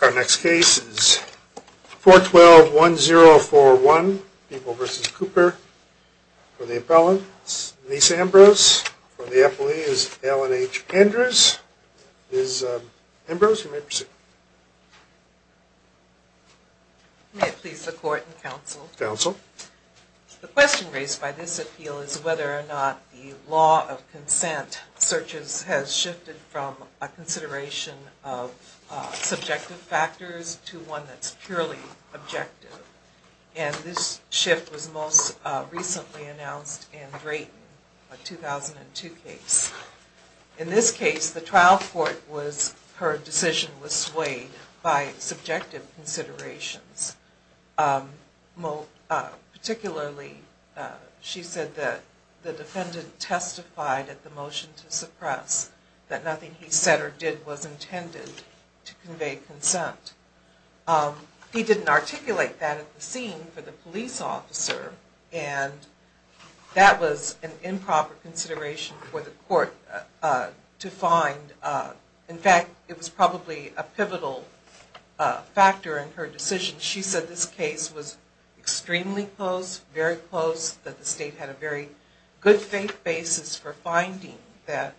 Our next case is 4121041, People v. Cooper. For the appellant, Denise Ambrose. For the appellee is Ellen H. Andrews. Ms. Ambrose, you may proceed. May it please the Court and Counsel. Counsel. The question raised by this appeal is whether or not the law of consent searches has shifted from a consideration of subjective factors to one that's purely objective. And this shift was most recently announced in Drayton, a 2002 case. In this case, the trial court was, her decision was swayed by subjective considerations. Particularly, she said that the defendant testified at the motion to suppress that nothing he said or did was intended to convey consent. He didn't articulate that at the scene for the police officer, and that was an improper consideration for the court to find. In fact, it was probably a pivotal factor in her decision. She said this case was extremely close, very close, that the state had a very good faith basis for finding that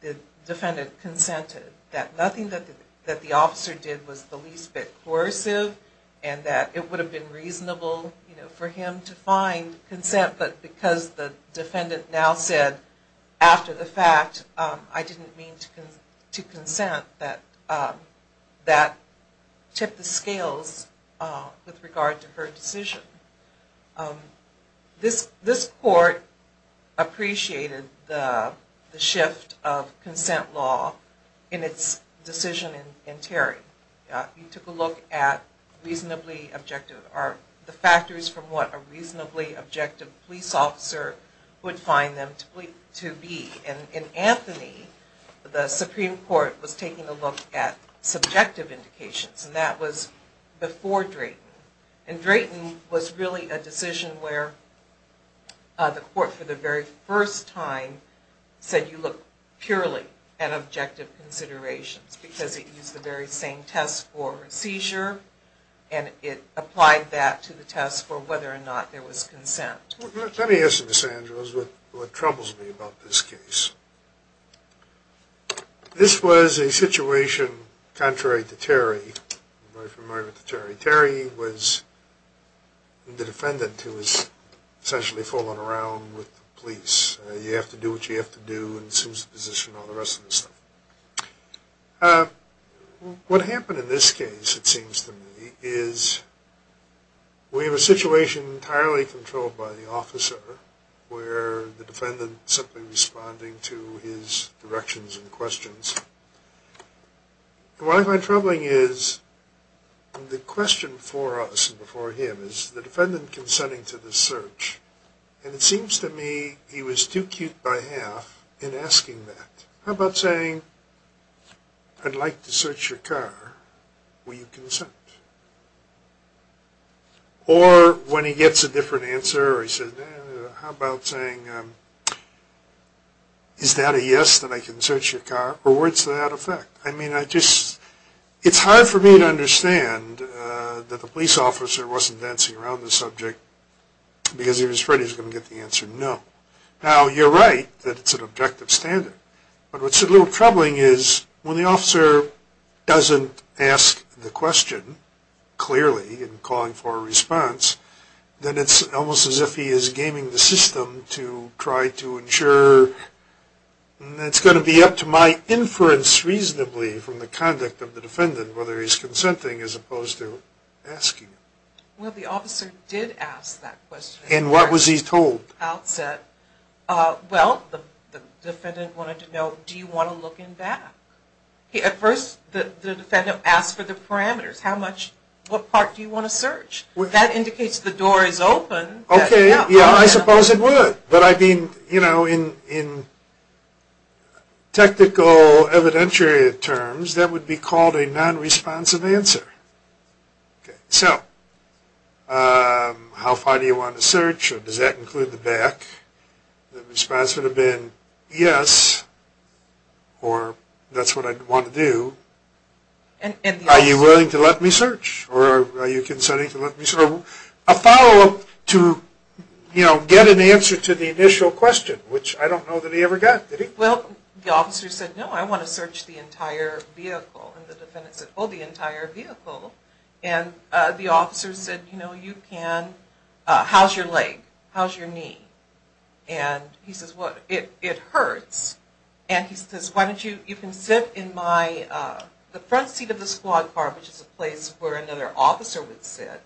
the defendant consented. That nothing that the officer did was the least bit coercive, and that it would have been reasonable for him to find consent, but because the defendant now said, after the fact, I didn't mean to consent, that tipped the scales with regard to her decision. This court appreciated the shift of consent law in its decision in Terry. He took a look at reasonably objective, the factors from what a reasonably objective police officer would find them to be. In Anthony, the Supreme Court was taking a look at subjective indications, and that was before Drayton. And Drayton was really a decision where the court, for the very first time, said you look purely at objective considerations, because it used the very same test for seizure, and it applied that to the test for whether or not there was consent. Let me ask you, Ms. Andrews, what troubles me about this case. This was a situation contrary to Terry, very familiar with Terry. Terry was the defendant who was essentially fooling around with the police. You have to do what you have to do, and assumes the position, and all the rest of the stuff. What happened in this case, it seems to me, is we have a search on the officer, where the defendant is simply responding to his directions and questions. What I find troubling is, the question before us and before him, is the defendant consenting to the search, and it seems to me he was too cute by half in asking that. How about saying, I'd like to search your car, will you consent? Or when he gets a different answer, or he says, how about saying, is that a yes that I can search your car? Or words to that effect? I mean, I just, it's hard for me to understand that the police officer wasn't dancing around the subject, because he was afraid he was going to get the answer no. Now, you're right that it's an objective standard, but what's a little troubling is, when the officer doesn't ask the question clearly, and calling for a response, then it's almost as if he is gaming the system to try to ensure, and it's going to be up to my inference, reasonably, from the conduct of the defendant, whether he's consenting as opposed to asking. Well, the officer did ask that question. And what was he told? At the outset, well, the defendant wanted to know, do you want to look in back? At first, the defendant asked for the parameters. How much, what part do you want to search? That indicates the door is open. Okay, yeah, I suppose it would. But I mean, you know, in technical evidentiary terms, that would be called a non-responsive answer. So, how far do you want to search, or does that include the back? The response would have been, yes, or that's what I'd want to do. Are you willing to let me search, or are you consenting to let me search? A follow-up to, you know, get an answer to the initial question, which I don't know that he ever got, did he? Well, the officer said, no, I want to search the entire vehicle. And the defendant said, oh, the entire vehicle. And the officer said, you know, you can, how's your leg? How's your leg? And he said, well, my, the front seat of the squad car, which is a place where another officer would sit.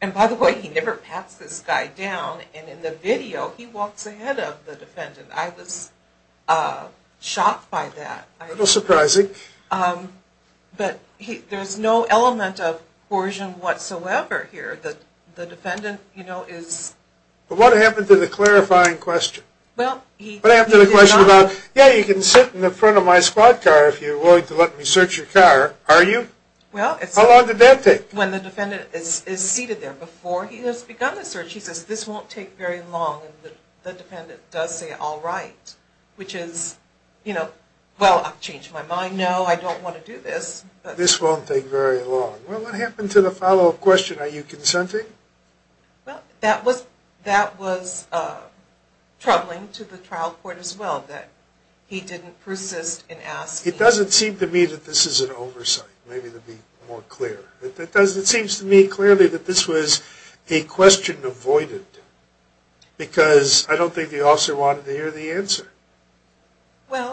And, by the way, he never pats this guy down, and in the video, he walks ahead of the defendant. I was shocked by that. A little surprising. But there's no element of coercion whatsoever here. The defendant, you know, is. But what happened to the clarifying question? Well, he did not. But after the question about, yeah, you can sit in the front of my squad car if you're willing to let me search your car, are you? How long did that take? When the defendant is seated there, before he has begun the search, he says, this won't take very long. And the defendant does say, all right. Which is, you know, well, I've changed my mind. No, I don't want to do this. This won't take very long. Well, what happened to the follow-up question? Are you consenting? Well, that was troubling to the trial court as well, that he didn't persist in asking. It doesn't seem to me that this is an oversight, maybe to be more clear. It seems to me clearly that this was a question avoided, because I don't think the officer wanted to hear the answer.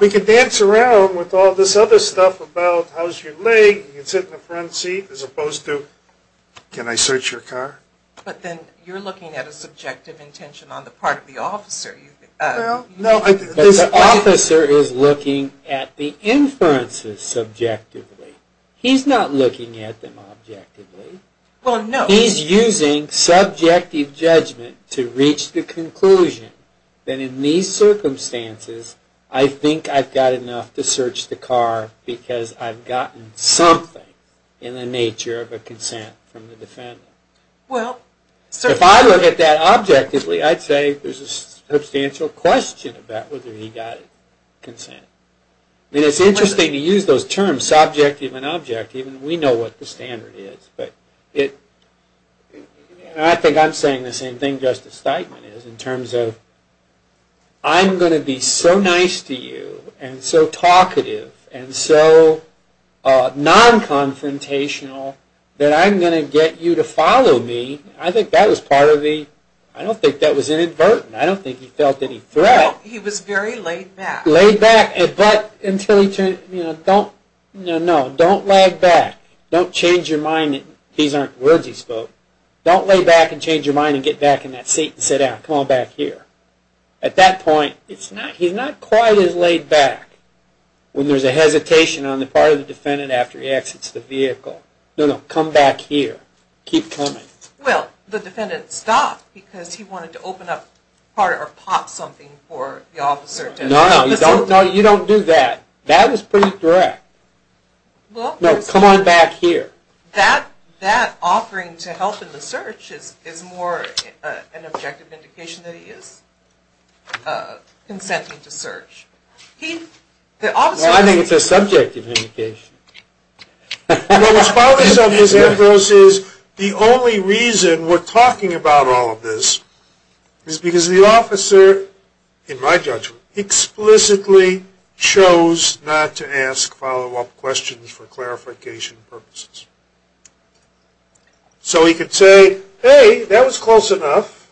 We can dance around with all this other stuff about, how's your leg? You can sit in the front seat, as opposed to, can I search your car? But then you're looking at a subjective intention on the part of the officer. Well, no. But the officer is looking at the inferences subjectively. He's not looking at them objectively. Well, no. He's using subjective judgment to reach the conclusion that in these circumstances, I think I've got enough to search the car, because I've gotten something in the nature of a consent from the defendant. Well, certainly. If I look at that objectively, I'd say there's a substantial question about whether he got consent. It's interesting to use those terms, subjective and objective, and we know what the standard is. I think I'm saying the same thing Justice Steitman is, in terms of, I'm going to be so nice to you, and so talkative, and so non-confrontational, that I'm going to get you to follow me. I think that was part of the, I don't think that was inadvertent. I don't think he felt any threat. No, he was very laid back. Laid back, but until he turned, you know, don't, no, no, don't lag back. Don't change your mind that these aren't words he spoke. Don't lay back and change your mind and get back in that seat and sit down. Come on back here. At that point, it's not, he's not quite as laid back when there's a hesitation on the part of the defendant after he exits the vehicle. No, no, come back here. Keep coming. Well, the defendant stopped because he wanted to open up part of, or pop something for the officer. No, no, you don't do that. That is pretty direct. No, come on back here. That offering to help in the search is more an objective indication that he is consenting to search. Well, I think it's a subjective indication. Well, the only reason we're talking about all of this is because the officer, in my judgment, explicitly chose not to ask follow-up questions for clarification purposes. So, he could say, hey, that was close enough.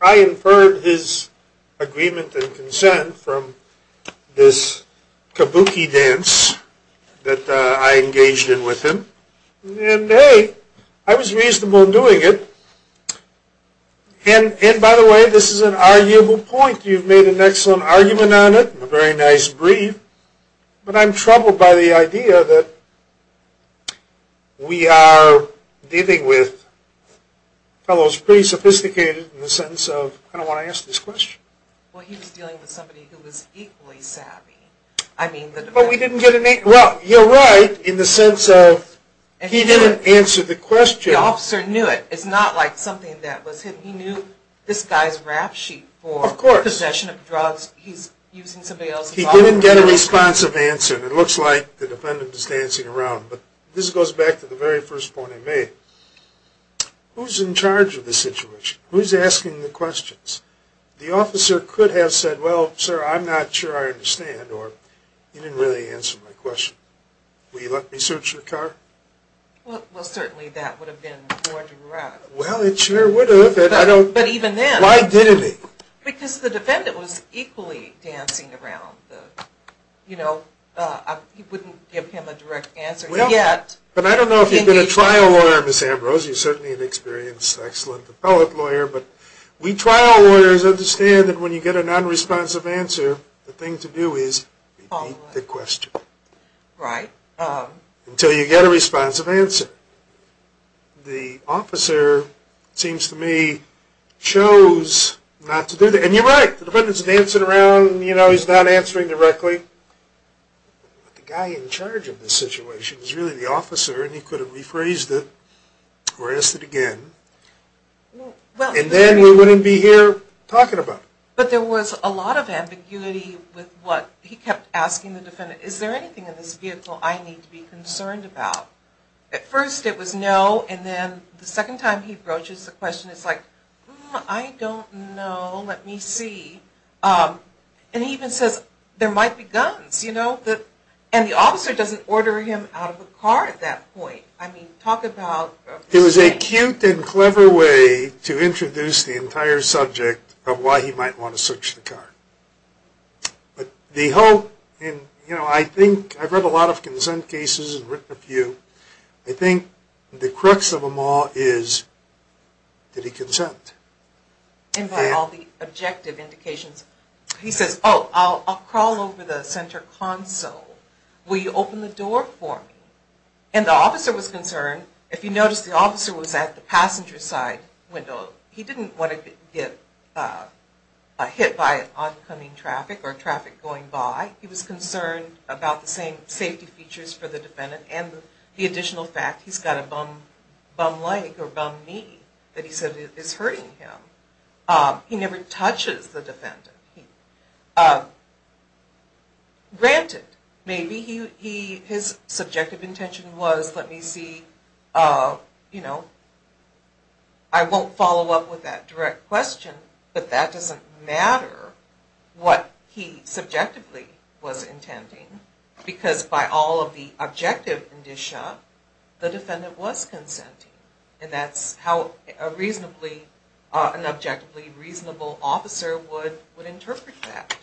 I inferred his agreement and consent from this kabuki dance that I engaged in with him. And, hey, I was reasonable in doing it. And, by the way, this is an arguable point. You've made an excellent argument on it, a very nice brief. But, I'm troubled by the idea that we are dealing with fellows pretty sophisticated in the sense of, I don't want to ask this question. Well, he was dealing with somebody who was equally savvy. Well, you're right in the sense of he didn't answer the question. The officer knew it. It's not like something that was hidden. He knew this guy's rap sheet for possession of drugs. Of course. He's using somebody else's offer. He didn't get a responsive answer. It looks like the defendant is dancing around. But, this goes back to the very first point I made. Who's in charge of the situation? Who's asking the questions? The officer could have said, well, sir, I'm not sure I understand. Or, he didn't really answer my question. Will you let me search your car? Well, certainly that would have been more direct. Well, it sure would have. But, even then. Why didn't he? Because the defendant was equally dancing around. You know, I wouldn't give him a direct answer yet. But, I don't know if you've been a trial lawyer, Ms. Ambrose. You're certainly an experienced, excellent appellate lawyer. But, we trial lawyers understand that when you get a non-responsive answer, the thing to do is repeat the question. Right. Until you get a responsive answer. The officer, it seems to me, chose not to do that. And, you're right. The defendant's dancing around. You know, he's not answering directly. But, the guy in charge of this situation is really the officer. And, he could have rephrased it or asked it again. And, then we wouldn't be here talking about it. But, there was a lot of ambiguity with what he kept asking the defendant. Is there anything in this vehicle I need to be concerned about? At first, it was no. And, then the second time he broaches the question, it's like, I don't know. Let me see. And, he even says, there might be guns. And, the officer doesn't order him out of the car at that point. I mean, talk about... It was a cute and clever way to introduce the entire subject of why he might want to search the car. But, the whole... You know, I've read a lot of consent cases and written a few. I think the crux of them all is, did he consent? And, by all the objective indications. He says, oh, I'll crawl over the center console. Will you open the door for me? And, the officer was concerned. If you notice, the officer was at the passenger side window. He didn't want to get hit by oncoming traffic or traffic going by. He was concerned about the same safety features for the defendant. And, the additional fact he's got a bum leg or bum knee that he said is hurting him. He never touches the defendant. Granted, maybe his subjective intention was, let me see, you know, I won't follow up with that direct question. But, that doesn't matter what he subjectively was intending. Because, by all of the objective indicia, the defendant was consenting. And, that's how an objectively reasonable officer would interpret that.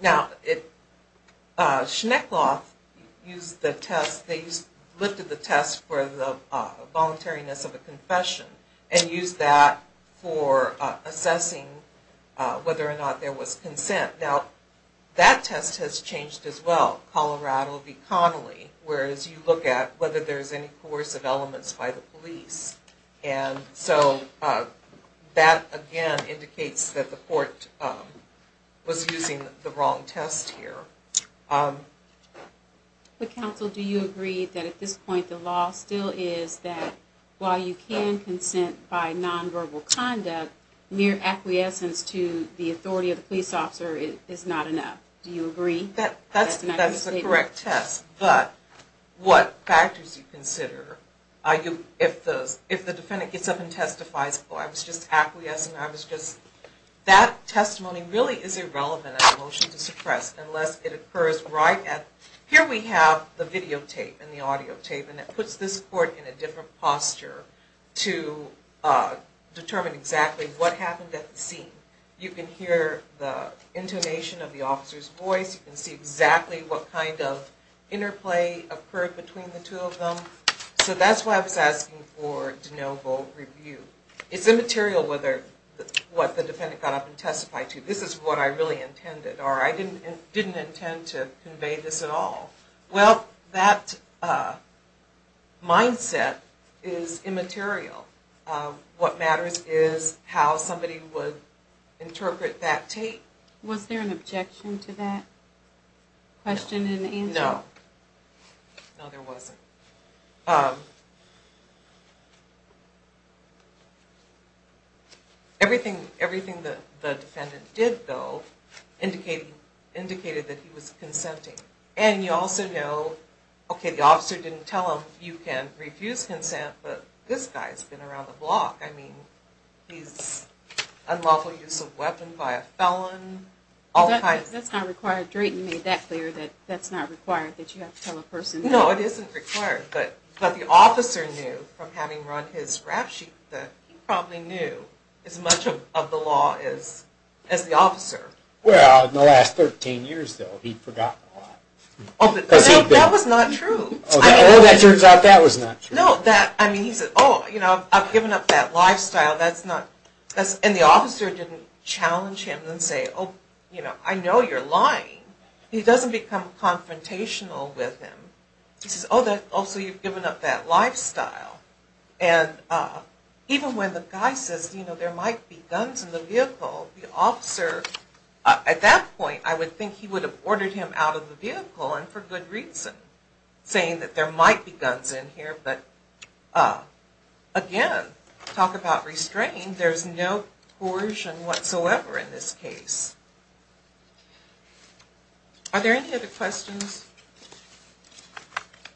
Now, Schneckloth used the test, they lifted the test for the voluntariness of a confession. And, used that for assessing whether or not there was consent. Now, that test has changed as well. Colorado v. Connolly, where as you look at whether there's any coercive elements by the police. And, so, that again indicates that the court was using the wrong test here. But, counsel, do you agree that at this point the law still is that while you can consent by nonverbal conduct, mere acquiescence to the authority of the police officer is not enough? Do you agree? That's the correct test. But, what factors do you consider? If the defendant gets up and testifies, oh, I was just acquiescing, I was just... That testimony really is irrelevant as a motion to suppress unless it occurs right at... Here we have the video tape and the audio tape and it puts this court in a different posture to determine exactly what happened at the scene. You can hear the intonation of the officer's voice. You can see exactly what kind of interplay occurred between the two of them. So, that's why I was asking for de novo review. It's immaterial what the defendant got up and testified to. This is what I really intended or I didn't intend to convey this at all. Well, that mindset is immaterial. What matters is how somebody would interpret that tape. Was there an objection to that question and answer? No. No, there wasn't. Okay. Everything the defendant did, though, indicated that he was consenting. And you also know, okay, the officer didn't tell him you can refuse consent, but this guy's been around the block. I mean, he's unlawful use of weapon by a felon. That's not required. Drayton made that clear that that's not required that you have to tell a person... No, it isn't required. But the officer knew from having run his rap sheet that he probably knew as much of the law as the officer. Well, in the last 13 years, though, he'd forgotten a lot. No, that was not true. Oh, that turns out that was not true. No, I mean, he said, oh, I've given up that lifestyle. That's not... And the officer didn't challenge him and say, oh, you know, I know you're lying. He doesn't become confrontational with him. He says, oh, so you've given up that lifestyle. And even when the guy says, you know, there might be guns in the vehicle, the officer, at that point, I would think he would have ordered him out of the vehicle and for good reason, saying that there might be guns in here. But again, talk about restraint, there's no coercion whatsoever in this case. Are there any other questions?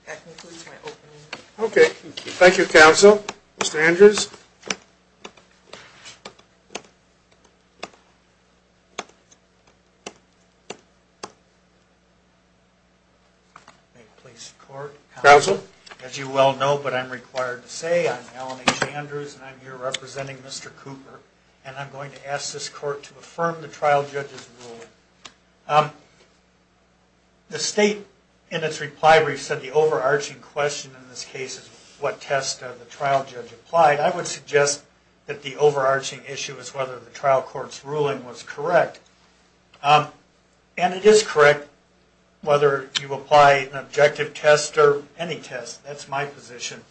That concludes my opening. Okay. Thank you, counsel. Mr. Andrews. May it please the court. Counsel. As you well know, but I'm required to say, I'm Alan H. Andrews and I'm here representing Mr. Cooper and I'm going to ask this court to affirm the trial judge's ruling. The state, in its reply brief, said the overarching question in this case is what test the trial judge applied. I would suggest that the overarching issue is whether the trial court's ruling was correct. And it is correct, whether you apply an objective test or any test. That's my position.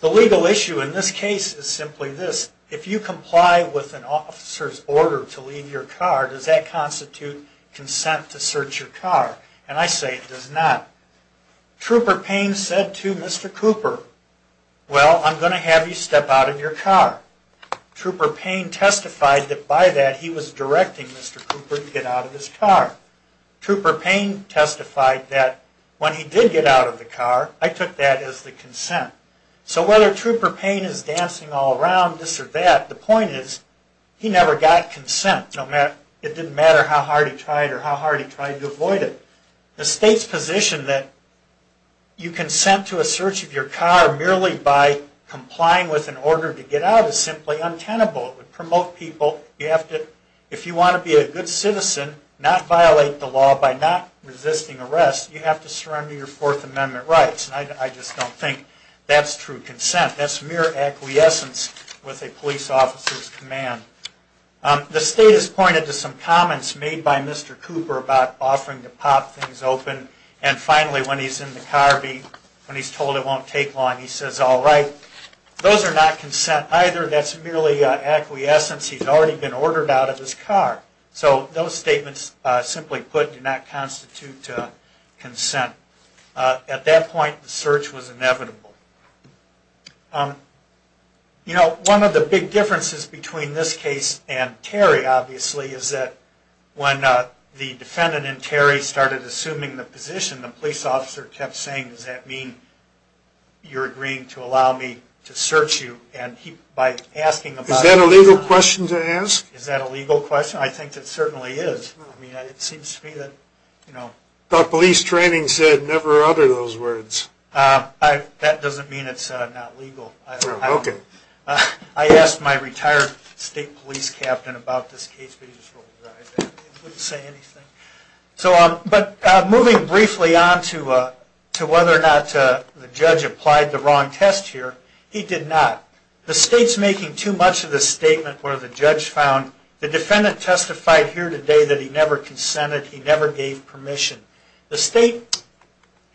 The legal issue in this case is simply this. If you comply with an officer's order to leave your car, does that constitute consent to search your car? And I say it does not. Trooper Payne said to Mr. Cooper, well, I'm going to have you step out of your car. Trooper Payne testified that by that he was directing Mr. Cooper to get out of his car. Trooper Payne testified that when he did get out of the car, I took that as the consent. So whether Trooper Payne is dancing all around, this or that, the point is he never got consent. It didn't matter how hard he tried or how hard he tried to avoid it. The state's position that you consent to a search of your car merely by complying with an order to get out is simply untenable. It would promote people. If you want to be a good citizen, not violate the law by not resisting arrest, you have to surrender your Fourth Amendment rights. And I just don't think that's true consent. That's mere acquiescence with a police officer's command. The state has pointed to some comments made by Mr. Cooper about offering to pop things open. And finally, when he's in the car, when he's told it won't take long, he says, all right. Those are not consent either. That's merely acquiescence. He's already been ordered out of his car. So those statements, simply put, do not constitute consent. At that point, the search was inevitable. You know, one of the big differences between this case and Terry, obviously, is that when the defendant and Terry started assuming the position, the police officer kept saying, does that mean you're agreeing to allow me to search you? Is that a legal question to ask? Is that a legal question? I think it certainly is. I mean, it seems to me that, you know. But police training said never utter those words. That doesn't mean it's not legal. OK. I asked my retired state police captain about this case. But he just rolled his eyes at me. He wouldn't say anything. But moving briefly on to whether or not the judge applied the wrong test here, he did not. The state's making too much of the statement where the judge found the defendant testified here today that he never consented. He never gave permission. The state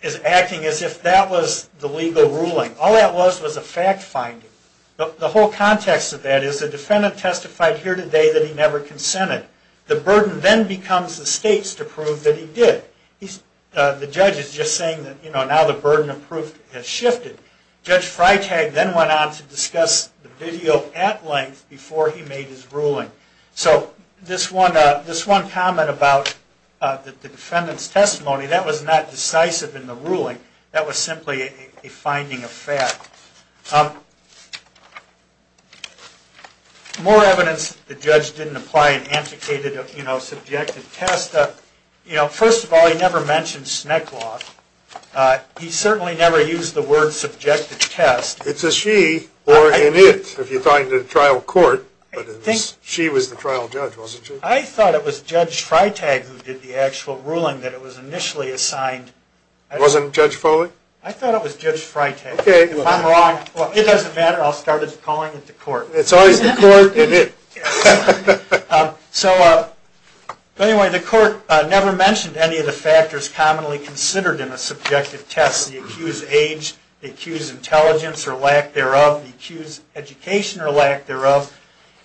is acting as if that was the legal ruling. All that was was a fact finding. The whole context of that is the defendant testified here today that he never consented. The burden then becomes the state's to prove that he did. The judge is just saying that, you know, now the burden of proof has shifted. Judge Freitag then went on to discuss the video at length before he made his ruling. So this one comment about the defendant's testimony, that was not decisive in the ruling. That was simply a finding of fact. More evidence the judge didn't apply an antiquated, you know, subjective test. You know, first of all, he never mentioned SNCC law. He certainly never used the word subjective test. It's a she or an it if you find it in trial court. But she was the trial judge, wasn't she? I thought it was Judge Freitag who did the actual ruling that it was initially assigned. Wasn't Judge Foley? I thought it was Judge Freitag. If I'm wrong, well, it doesn't matter. I'll start calling it the court. It's always the court and it. So anyway, the court never mentioned any of the factors commonly considered in a subjective test. The accused age, the accused intelligence or lack thereof, the accused education or lack thereof.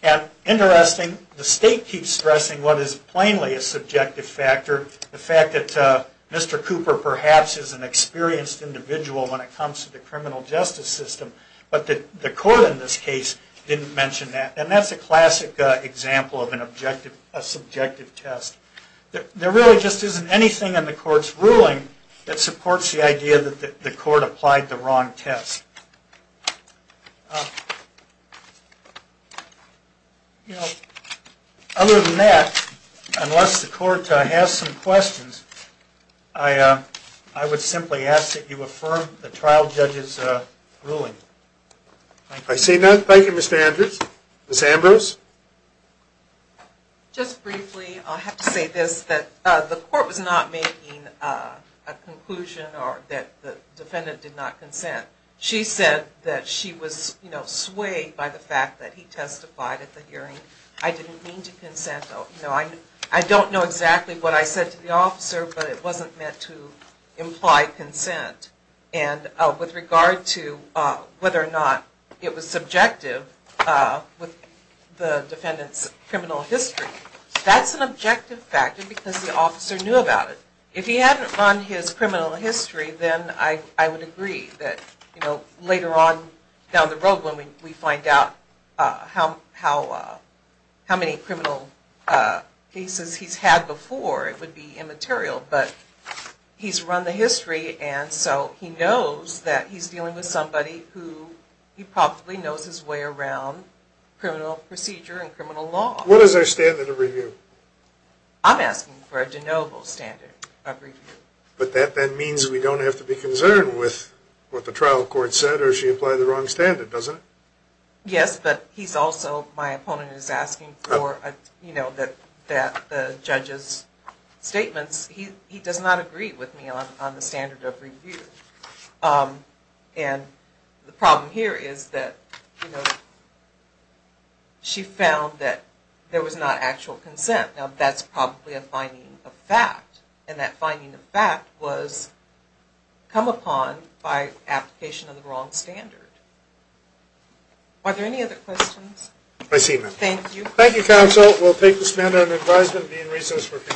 And interesting, the state keeps stressing what is plainly a subjective factor. The fact that Mr. Cooper perhaps is an experienced individual when it comes to the criminal justice system. But the court in this case didn't mention that. And that's a classic example of an objective, a subjective test. There really just isn't anything in the court's ruling that supports the idea that the court applied the wrong test. You know, other than that, unless the court has some questions, I would simply ask that you affirm the trial judge's ruling. Thank you. I see none. Thank you, Mr. Andrews. Ms. Ambrose? Just briefly, I'll have to say this, that the court was not making a conclusion or that the defendant did not consent. She said that she was, you know, swayed by the fact that he testified at the hearing. I didn't mean to consent. I don't know exactly what I said to the officer, but it wasn't meant to imply consent. And with regard to whether or not it was subjective with the defendant's criminal history, that's an objective factor because the officer knew about it. If he hadn't run his criminal history, then I would agree that later on down the road when we find out how many criminal cases he's had before, it would be immaterial, but he's run the history, and so he knows that he's dealing with somebody who he probably knows his way around criminal procedure and criminal law. What is our standard of review? I'm asking for a de novo standard of review. But that means we don't have to be concerned with what the trial court said or if she implied the wrong standard, doesn't it? Yes, but he's also, my opponent is asking for the judge's statements. He does not agree with me on the standard of review. And the problem here is that, you know, she found that there was not actual consent. Now, that's probably a finding of fact, and that finding of fact was come upon by application of the wrong standard. Are there any other questions? I see none. Thank you. Thank you, counsel. We'll take this matter under advisement and be in recess for a few minutes.